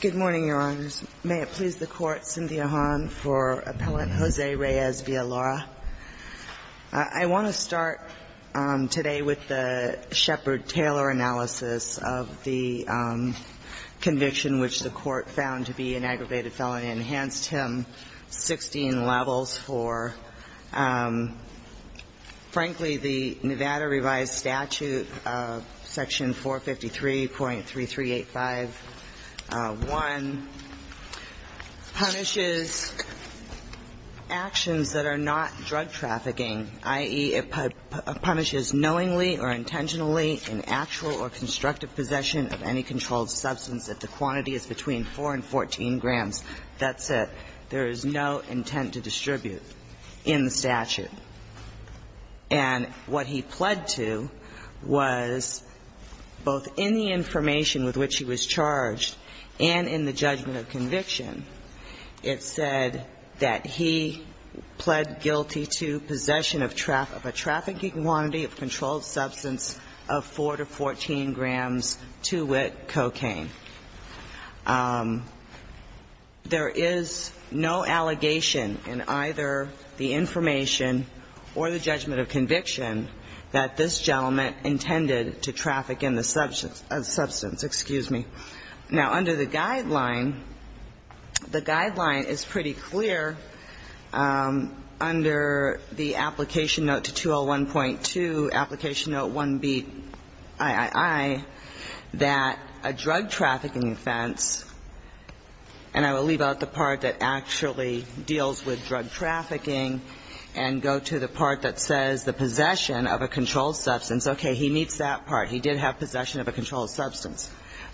Good morning, Your Honors. May it please the Court, Cynthia Hahn for Appellant Jose Reyes v. Villa-Lara. I want to start today with the Shepard Taylor analysis of the conviction which the Court found to be an aggravated felony and enhanced him 16 levels for, frankly, the Nevada Revised Statute, Section 453.3385.1, punishes actions that are not drug trafficking, i.e., it punishes knowingly or intentionally in actual or constructive possession of any controlled substance if the quantity is between 4 and 14 grams. That's it. There is no intent to distribute in the statute. And what he pled to was, both in the information with which he was charged and in the judgment of conviction, it said that he pled guilty to possession of a trafficking quantity of controlled substance of 4 to 14 grams, 2-wit cocaine. There is no allegation in either the information or the judgment of conviction that this gentleman intended to traffic in the substance. Excuse me. Now, under the guideline, the guideline is pretty clear. Under the application note 201.2, application note 1BIII, that a drug trafficking offense, and I will leave out the part that actually deals with drug trafficking and go to the part that says the possession of a controlled substance. Okay. He meets that part. He did have possession of a controlled substance.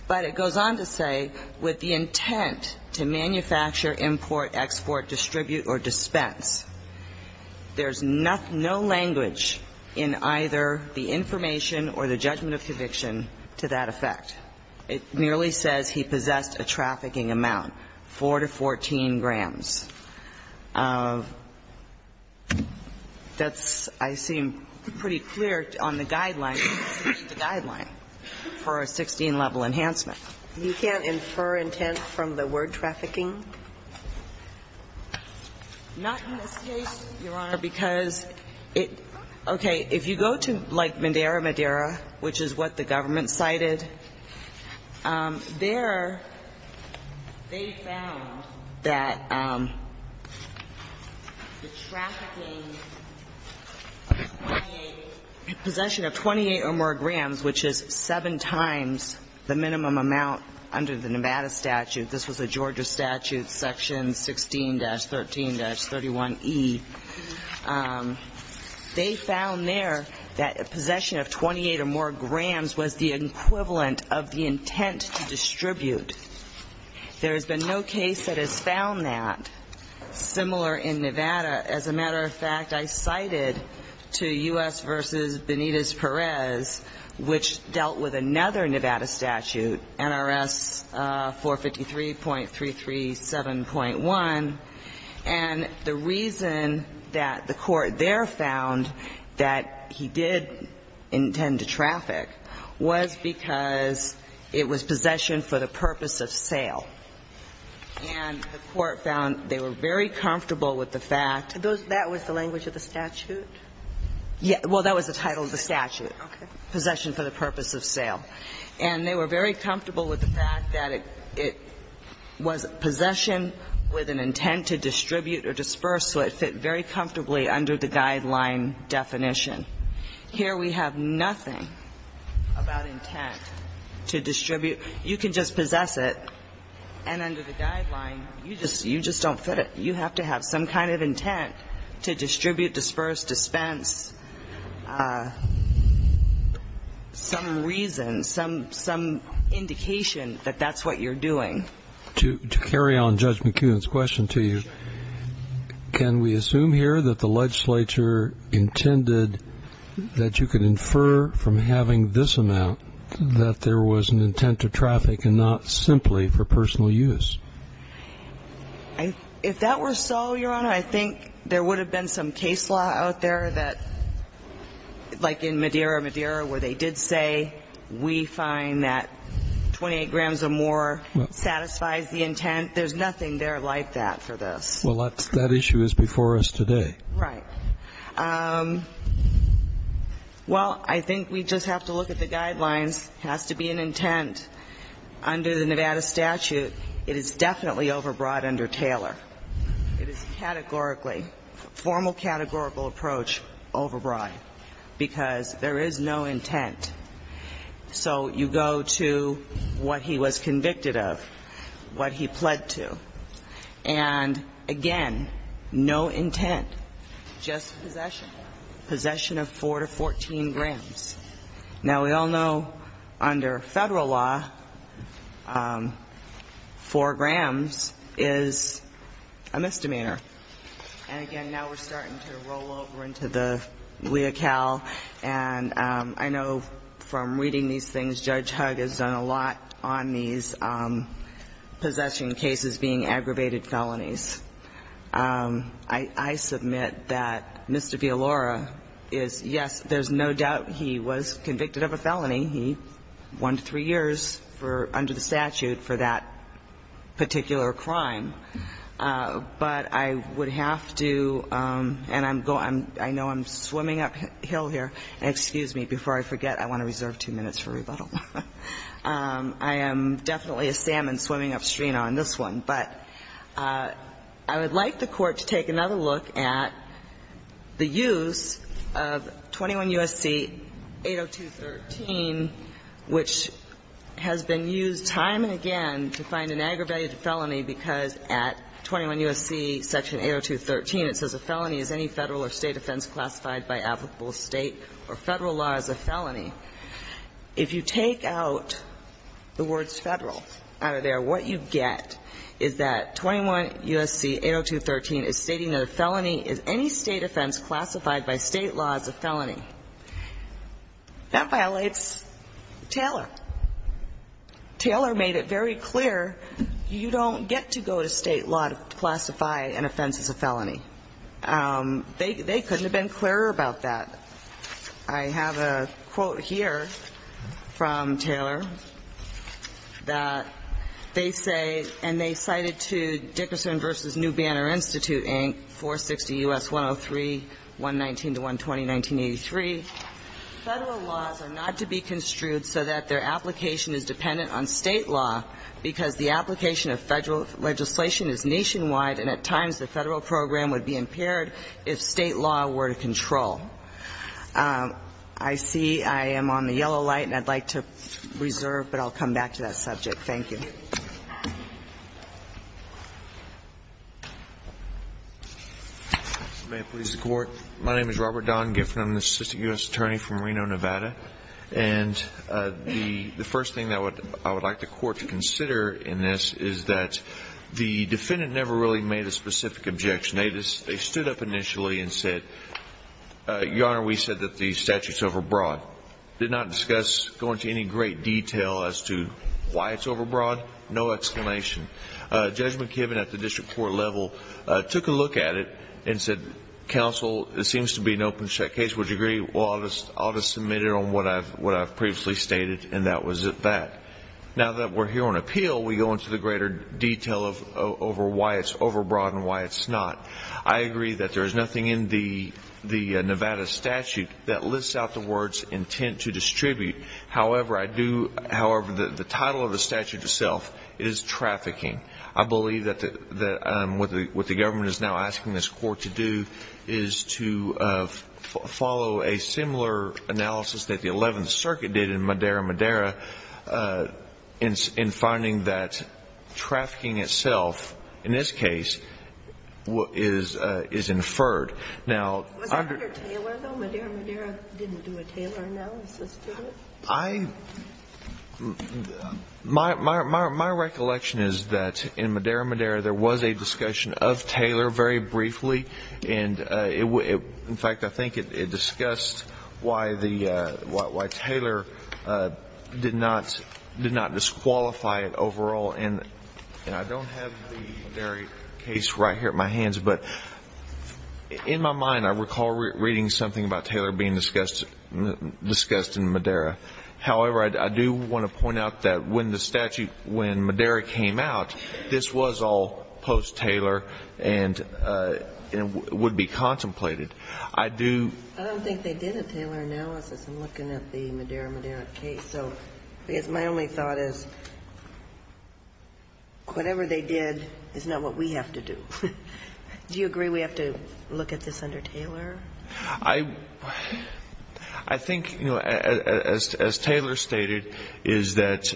But it goes on to say, with the intent to manufacture, import, export, distribute, or dispense, there's no language in either the information or the judgment of conviction to that effect. It merely says he possessed a trafficking amount, 4 to 14 grams. That's, I see, pretty clear on the guideline, the guideline for a 16-level enhancement. You can't infer intent from the word trafficking? Not in this case, Your Honor, because it, okay, if you go to, like, Madera, Madera, which is what the government cited, there they found that the trafficking of 28, possession of 28 or more grams, which is seven times the minimum amount under the Nevada statute, this was a Georgia statute, section 16-13-31E, they found there that possession of 28 or more grams was the equivalent of the intent to distribute. There has been no case that has found that similar in Nevada. As a matter of fact, I was in the Nevada statute, which dealt with another Nevada statute, NRS 453.337.1, and the reason that the court there found that he did intend to traffic was because it was possession for the purpose of sale. And the court found they were very comfortable with the fact that those were the language of the statute. Well, that was the title of the statute, possession for the purpose of sale. And they were very comfortable with the fact that it was possession with an intent to distribute or disperse, so it fit very comfortably under the guideline definition. Here we have nothing about intent to distribute. You can just possess it, and under the guideline, you just don't fit it. You have to have some kind of intent to distribute, disperse, dispense, some reason, some indication that that's what you're doing. To carry on Judge McKeown's question to you, can we assume here that the legislature intended that you could infer from having this amount that there was an intent to traffic and not simply for personal use? If that were so, Your Honor, I think there would have been some case law out there that, like in Madeira, Madeira, where they did say we find that 28 grams or more satisfies the intent. There's nothing there like that for this. Well, that issue is before us today. Right. Well, I think we just have to look at the guidelines. It has to be an intent. Under the Nevada statute, it is definitely overbroad under Taylor. It is categorically, formal categorical approach, overbroad, because there is no intent. So you go to what he was convicted of, what he pled to. And, again, no intent, just possession, possession of 4 to 14 grams. Now, we all know under Federal law, 4 grams is a misdemeanor. And, again, now we're starting to roll over into the Leocal. And I know from reading these things, Judge Hugg has done a lot on these possession cases being aggravated felonies. I submit that Mr. Villalora is, yes, there's no doubt he was convicted of a felony. He won three years for, under the statute, for that particular crime. But I would have to, and I'm going, I know I'm swimming uphill here. And excuse me, before I forget, I want to reserve two minutes for rebuttal. I am definitely a salmon swimming upstream on this one. But I would like the Court to take another look at the use of 21 U.S.C. 802.13, which has been used time and again to find an aggravated felony, because at 21 U.S.C. section 802.13, it says, A felony is any Federal or State offense classified by applicable State or Federal law as a felony. If you take out the words Federal out of there, what you get is that 21 U.S.C. 802.13 is stating that a felony is any State offense classified by State law as a felony. That violates Taylor. Taylor made it very clear you don't get to go to State law to classify an offense as a felony. They couldn't have been clearer about that. I have a quote here from Taylor that they say, and they cited to Dickerson v. New Banner Institute, Inc., 460 U.S. 103-119-120-1983. Federal laws are not to be construed so that their application is dependent on State law because the application of Federal legislation is nationwide, and at times the Federal program would be impaired if State law were to control. I see I am on the yellow light, and I'd like to reserve, but I'll come back to that subject. Thank you. Mr. Giffen, may it please the Court. My name is Robert Don Giffen. I'm an assistant U.S. attorney from Reno, Nevada. And the first thing that I would like the Court to consider in this is that the defendant never really made a specific objection. They stood up initially and said, Your Honor, we said that the statute is overbroad. Did not discuss, go into any great detail as to why it's overbroad. No explanation. Judge McKibben at the district court level took a look at it and said, Counsel, it seems to be an open case. Would you agree? Well, I'll just submit it on what I've previously stated, and that was that. Now that we're here on appeal, we go into the greater detail over why it's overbroad. I agree that there is nothing in the Nevada statute that lists out the words intent to distribute. However, I do, however, the title of the statute itself is trafficking. I believe that what the government is now asking this Court to do is to follow a similar analysis that the Eleventh Circuit did in Madera Madera in finding that trafficking itself, in this case, is inferred. Was that under Taylor, though? Madera Madera didn't do a Taylor analysis to it? My recollection is that in Madera Madera there was a discussion of Taylor very briefly. In fact, I think it discussed why Taylor did not disqualify it overall. And I don't have the Madera case right here at my hands, but in my mind I recall reading something about Taylor being discussed in Madera. However, I do want to point out that when the statute, when Madera came out, this was all post-Taylor and would be contemplated. I do ---- I don't think they did a Taylor analysis. I'm looking at the Madera Madera case. My only thought is whatever they did is not what we have to do. Do you agree we have to look at this under Taylor? I think, as Taylor stated, is that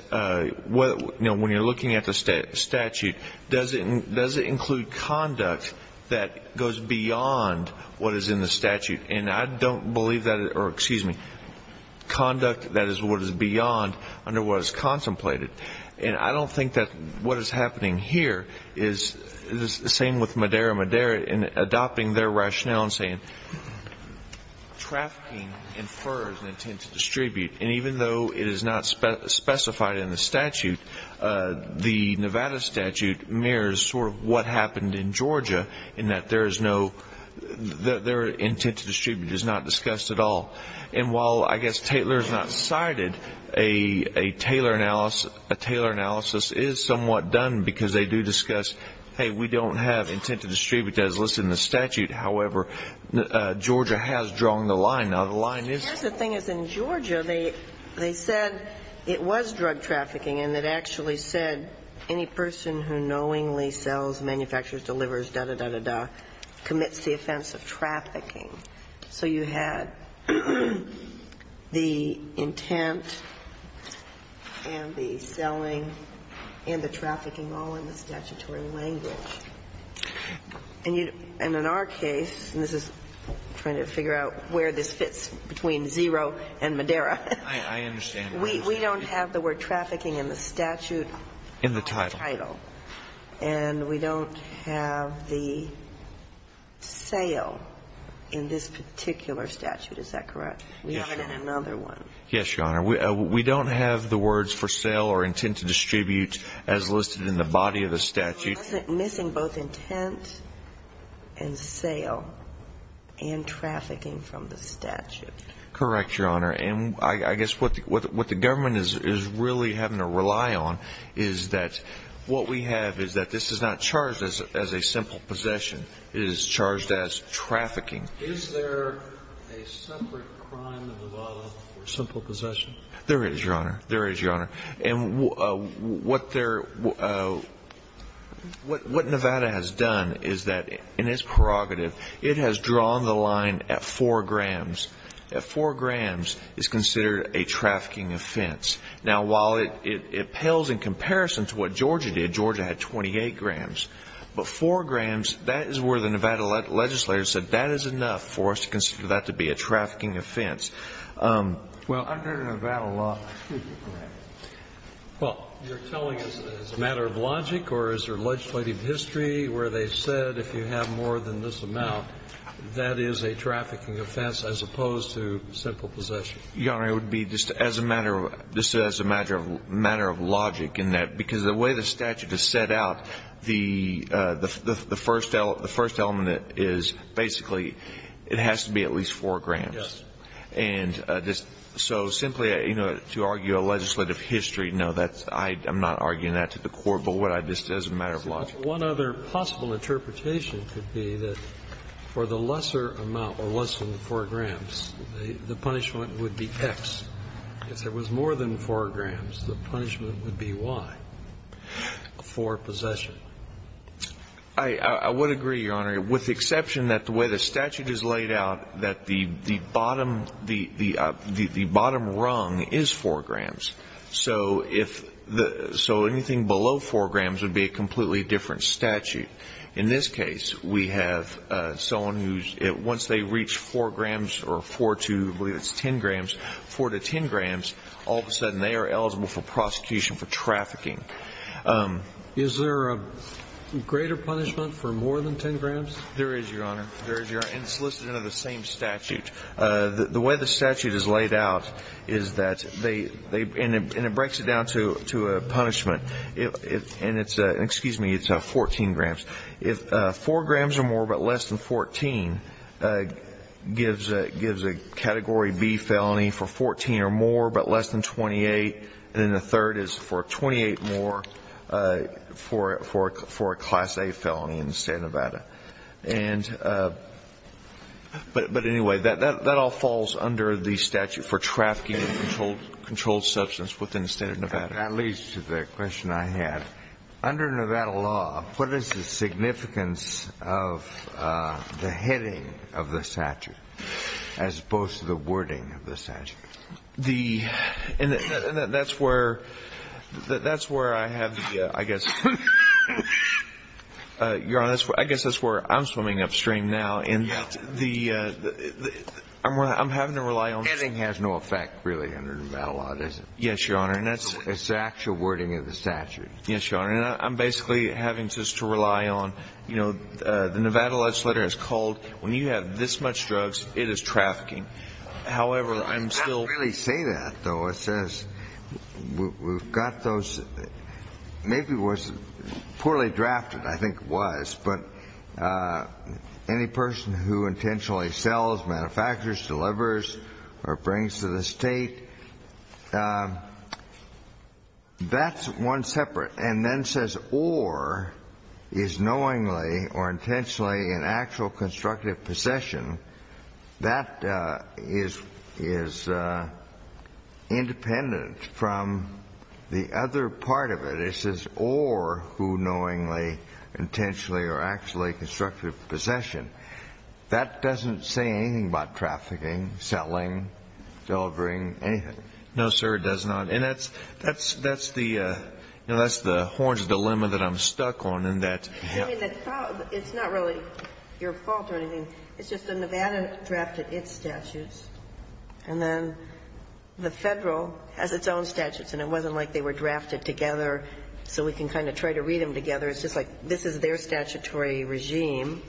when you're looking at the statute, does it include conduct that goes beyond what is in the statute? And I don't believe that, or excuse me, conduct that is what is beyond under what is contemplated. And I don't think that what is happening here is the same with Madera Madera in adopting their rationale in saying trafficking infers an intent to distribute. And even though it is not specified in the statute, the Nevada statute mirrors sort of what happened in Georgia in that there is no ---- their intent to distribute is not discussed at all. And while I guess Taylor is not cited, a Taylor analysis is somewhat done because they do discuss, hey, we don't have intent to distribute as listed in the statute. However, Georgia has drawn the line. Now, the line is ---- I guess the thing is in Georgia they said it was drug trafficking and it actually said that any person who knowingly sells, manufactures, delivers, dah, dah, dah, dah, commits the offense of trafficking. So you had the intent and the selling and the trafficking all in the statutory language. And in our case, and this is trying to figure out where this fits between zero and Madera. I understand. We don't have the word trafficking in the statute. In the title. In the title. And we don't have the sale in this particular statute. Is that correct? Yes, Your Honor. We have it in another one. Yes, Your Honor. We don't have the words for sale or intent to distribute as listed in the body of the statute. It wasn't missing both intent and sale and trafficking from the statute. Correct, Your Honor. And I guess what the government is really having to rely on is that what we have is that this is not charged as a simple possession. It is charged as trafficking. Is there a separate crime in Nevada for simple possession? There is, Your Honor. There is, Your Honor. And what they're ---- what Nevada has done is that in its prerogative it has drawn the line at four grams. At four grams is considered a trafficking offense. Now, while it pales in comparison to what Georgia did, Georgia had 28 grams. But four grams, that is where the Nevada legislature said that is enough for us to consider that to be a trafficking offense. Well, under Nevada law ---- Well, you're telling us it's a matter of logic or is there legislative history where they said if you have more than this amount, that is a trafficking offense as opposed to simple possession? Your Honor, it would be just as a matter of ---- just as a matter of logic in that because the way the statute is set out, the first element is basically it has to be at least four grams. Yes. And just so simply, you know, to argue a legislative history, no, that's ---- I'm not arguing that to the court. But what I just said is a matter of logic. One other possible interpretation could be that for the lesser amount or lesser than four grams, the punishment would be X. If there was more than four grams, the punishment would be Y for possession. I would agree, Your Honor, with the exception that the way the statute is laid out, that the bottom rung is four grams. So if the ---- so anything below four grams would be a completely different statute. In this case, we have someone who's ---- once they reach four grams or four to, I believe it's ten grams, four to ten grams, all of a sudden they are eligible for prosecution for trafficking. Is there a greater punishment for more than ten grams? There is, Your Honor. There is, Your Honor. And it's listed under the same statute. The way the statute is laid out is that they ---- and it breaks it down to a punishment. And it's a ---- excuse me, it's 14 grams. If four grams or more but less than 14 gives a Category B felony for 14 or more but less than 28, then the third is for 28 more for a Class A felony in the state of Nevada. And ---- but anyway, that all falls under the statute for trafficking in controlled substance within the state of Nevada. That leads to the question I had. Under Nevada law, what is the significance of the heading of the statute as opposed to the wording of the statute? The ---- and that's where I have the, I guess, Your Honor, I guess that's where I have the, I guess that's where I'm swimming upstream now in the ---- I'm having to rely on ---- The heading has no effect, really, under Nevada law, does it? Yes, Your Honor. And that's the actual wording of the statute. Yes, Your Honor. And I'm basically having just to rely on, you know, the Nevada legislature has called when you have this much drugs, it is trafficking. However, I'm still ---- You can't really say that, though. It says we've got those ---- maybe it was poorly drafted, I think it was, but any person who intentionally sells, manufactures, delivers or brings to the state, that's one separate. And then says or is knowingly or intentionally an actual constructive possession, that is independent from the other part of it. It says or who knowingly, intentionally or actually constructive possession. That doesn't say anything about trafficking, selling, delivering, anything. No, sir, it does not. And that's the horn's dilemma that I'm stuck on in that ---- I mean, it's not really your fault or anything. It's just the Nevada drafted its statutes, and then the Federal has its own statutes. And it wasn't like they were drafted together so we can kind of try to read them together. It's just like this is their statutory regime,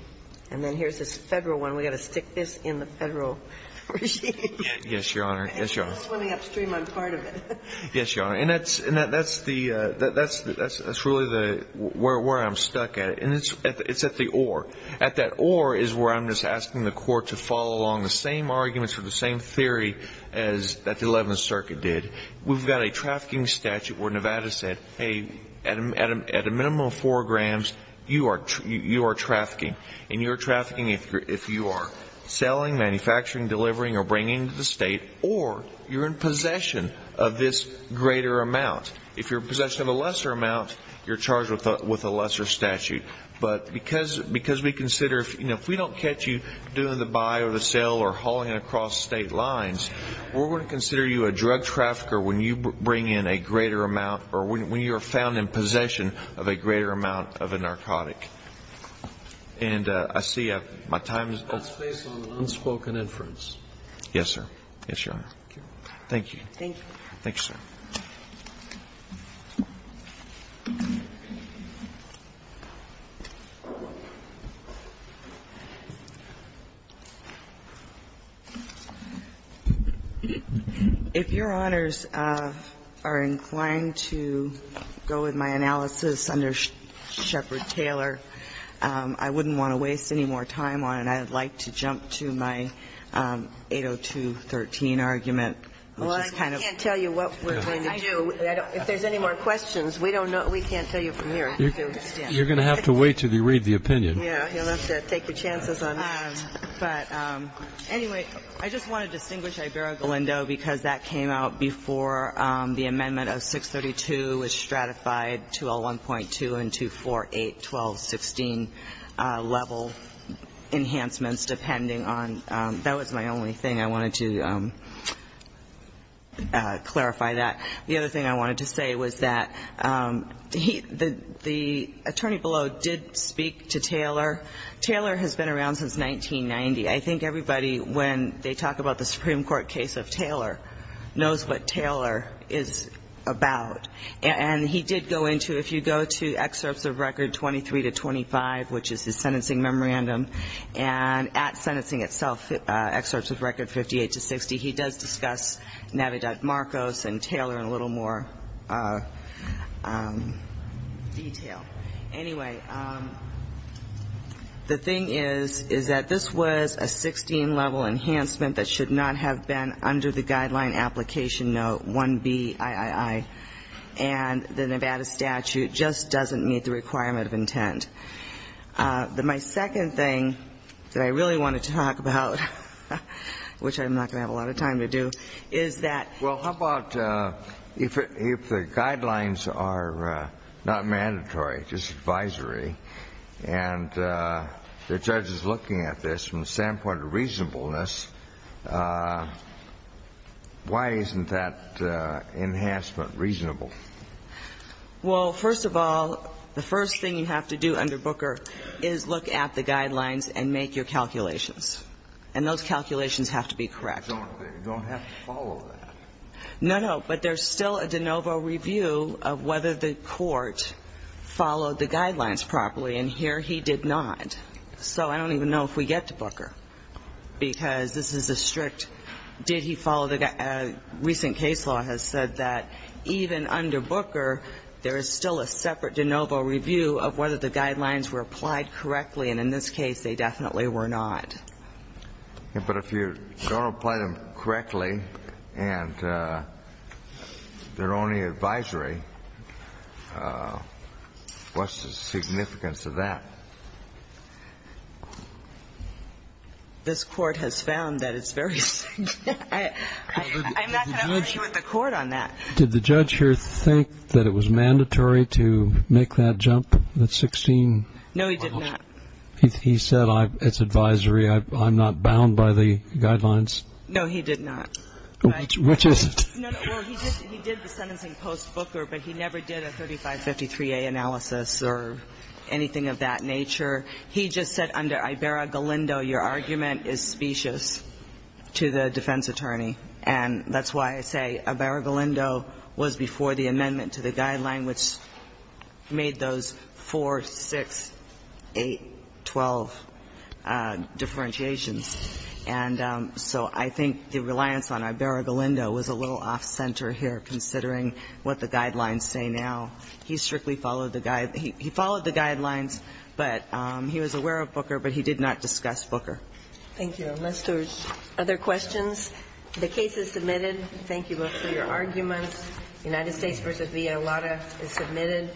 and then here's this Federal one. We've got to stick this in the Federal regime. Yes, Your Honor. Yes, Your Honor. Yes, Your Honor. And that's really where I'm stuck at. And it's at the or. At that or is where I'm just asking the Court to follow along the same arguments or the same theory that the Eleventh Circuit did. We've got a trafficking statute where Nevada said, hey, at a minimum of four grams, or you're in possession of this greater amount. If you're in possession of a lesser amount, you're charged with a lesser statute. But because we consider, you know, if we don't catch you doing the buy or the sell or hauling it across state lines, we're going to consider you a drug trafficker when you bring in a greater amount or when you're found in possession of a greater amount of a narcotic. And I see my time is up. And that's based on an unspoken inference. Yes, sir. Yes, Your Honor. Thank you. Thank you. Thank you, sir. If Your Honors are inclined to go with my analysis under Shepard Taylor, I wouldn't want to waste any more time on it. I would like to jump to my 802.13 argument. Well, I can't tell you what we're going to do. If there's any more questions, we don't know. We can't tell you from here. You're going to have to wait until you read the opinion. Yeah. He'll have to take your chances on that. But anyway, I just want to distinguish Ibarra-Galindo because that came out before the amendment of 632 was stratified to a 1.2 and to 4.8.12.16 level enhancements, depending on that was my only thing. I wanted to clarify that. The other thing I wanted to say was that the attorney below did speak to Taylor. Taylor has been around since 1990. I think everybody, when they talk about the Supreme Court case of Taylor, knows what Taylor is about. And he did go into, if you go to excerpts of record 23 to 25, which is his sentencing memorandum, and at sentencing itself, excerpts of record 58 to 60, he does discuss Navidad-Marcos and Taylor in a little more detail. Anyway, the thing is, is that this was a 16-level enhancement that should not have been under the guideline application note 1BIII. And the Nevada statute just doesn't meet the requirement of intent. My second thing that I really want to talk about, which I'm not going to have a lot of time to do, is that ---- The guidelines are not mandatory, just advisory. And the judge is looking at this from the standpoint of reasonableness. Why isn't that enhancement reasonable? Well, first of all, the first thing you have to do under Booker is look at the guidelines and make your calculations. And those calculations have to be correct. You don't have to follow that. No, no. But there's still a de novo review of whether the court followed the guidelines properly. And here he did not. So I don't even know if we get to Booker, because this is a strict did he follow the ---- Recent case law has said that even under Booker, there is still a separate de novo review of whether the guidelines were applied correctly. And in this case, they definitely were not. But if you don't apply them correctly and they're only advisory, what's the significance of that? This Court has found that it's very ---- I'm not going to argue with the Court on that. Did the judge here think that it was mandatory to make that jump, the 16? No, he did not. He said it's advisory. I'm not bound by the guidelines. No, he did not. Which is ---- No, no. Well, he did the sentencing post Booker, but he never did a 3553A analysis or anything of that nature. He just said under Ibarra-Galindo, your argument is specious to the defense attorney. And that's why I say Ibarra-Galindo was before the amendment to the guideline, which made those 4, 6, 8, 12 differentiations. And so I think the reliance on Ibarra-Galindo was a little off-center here, considering what the guidelines say now. He strictly followed the guide ---- he followed the guidelines, but he was aware of Booker, but he did not discuss Booker. Thank you. Unless there's other questions. The case is submitted. Thank you both for your arguments. United States v. Villalobos is submitted.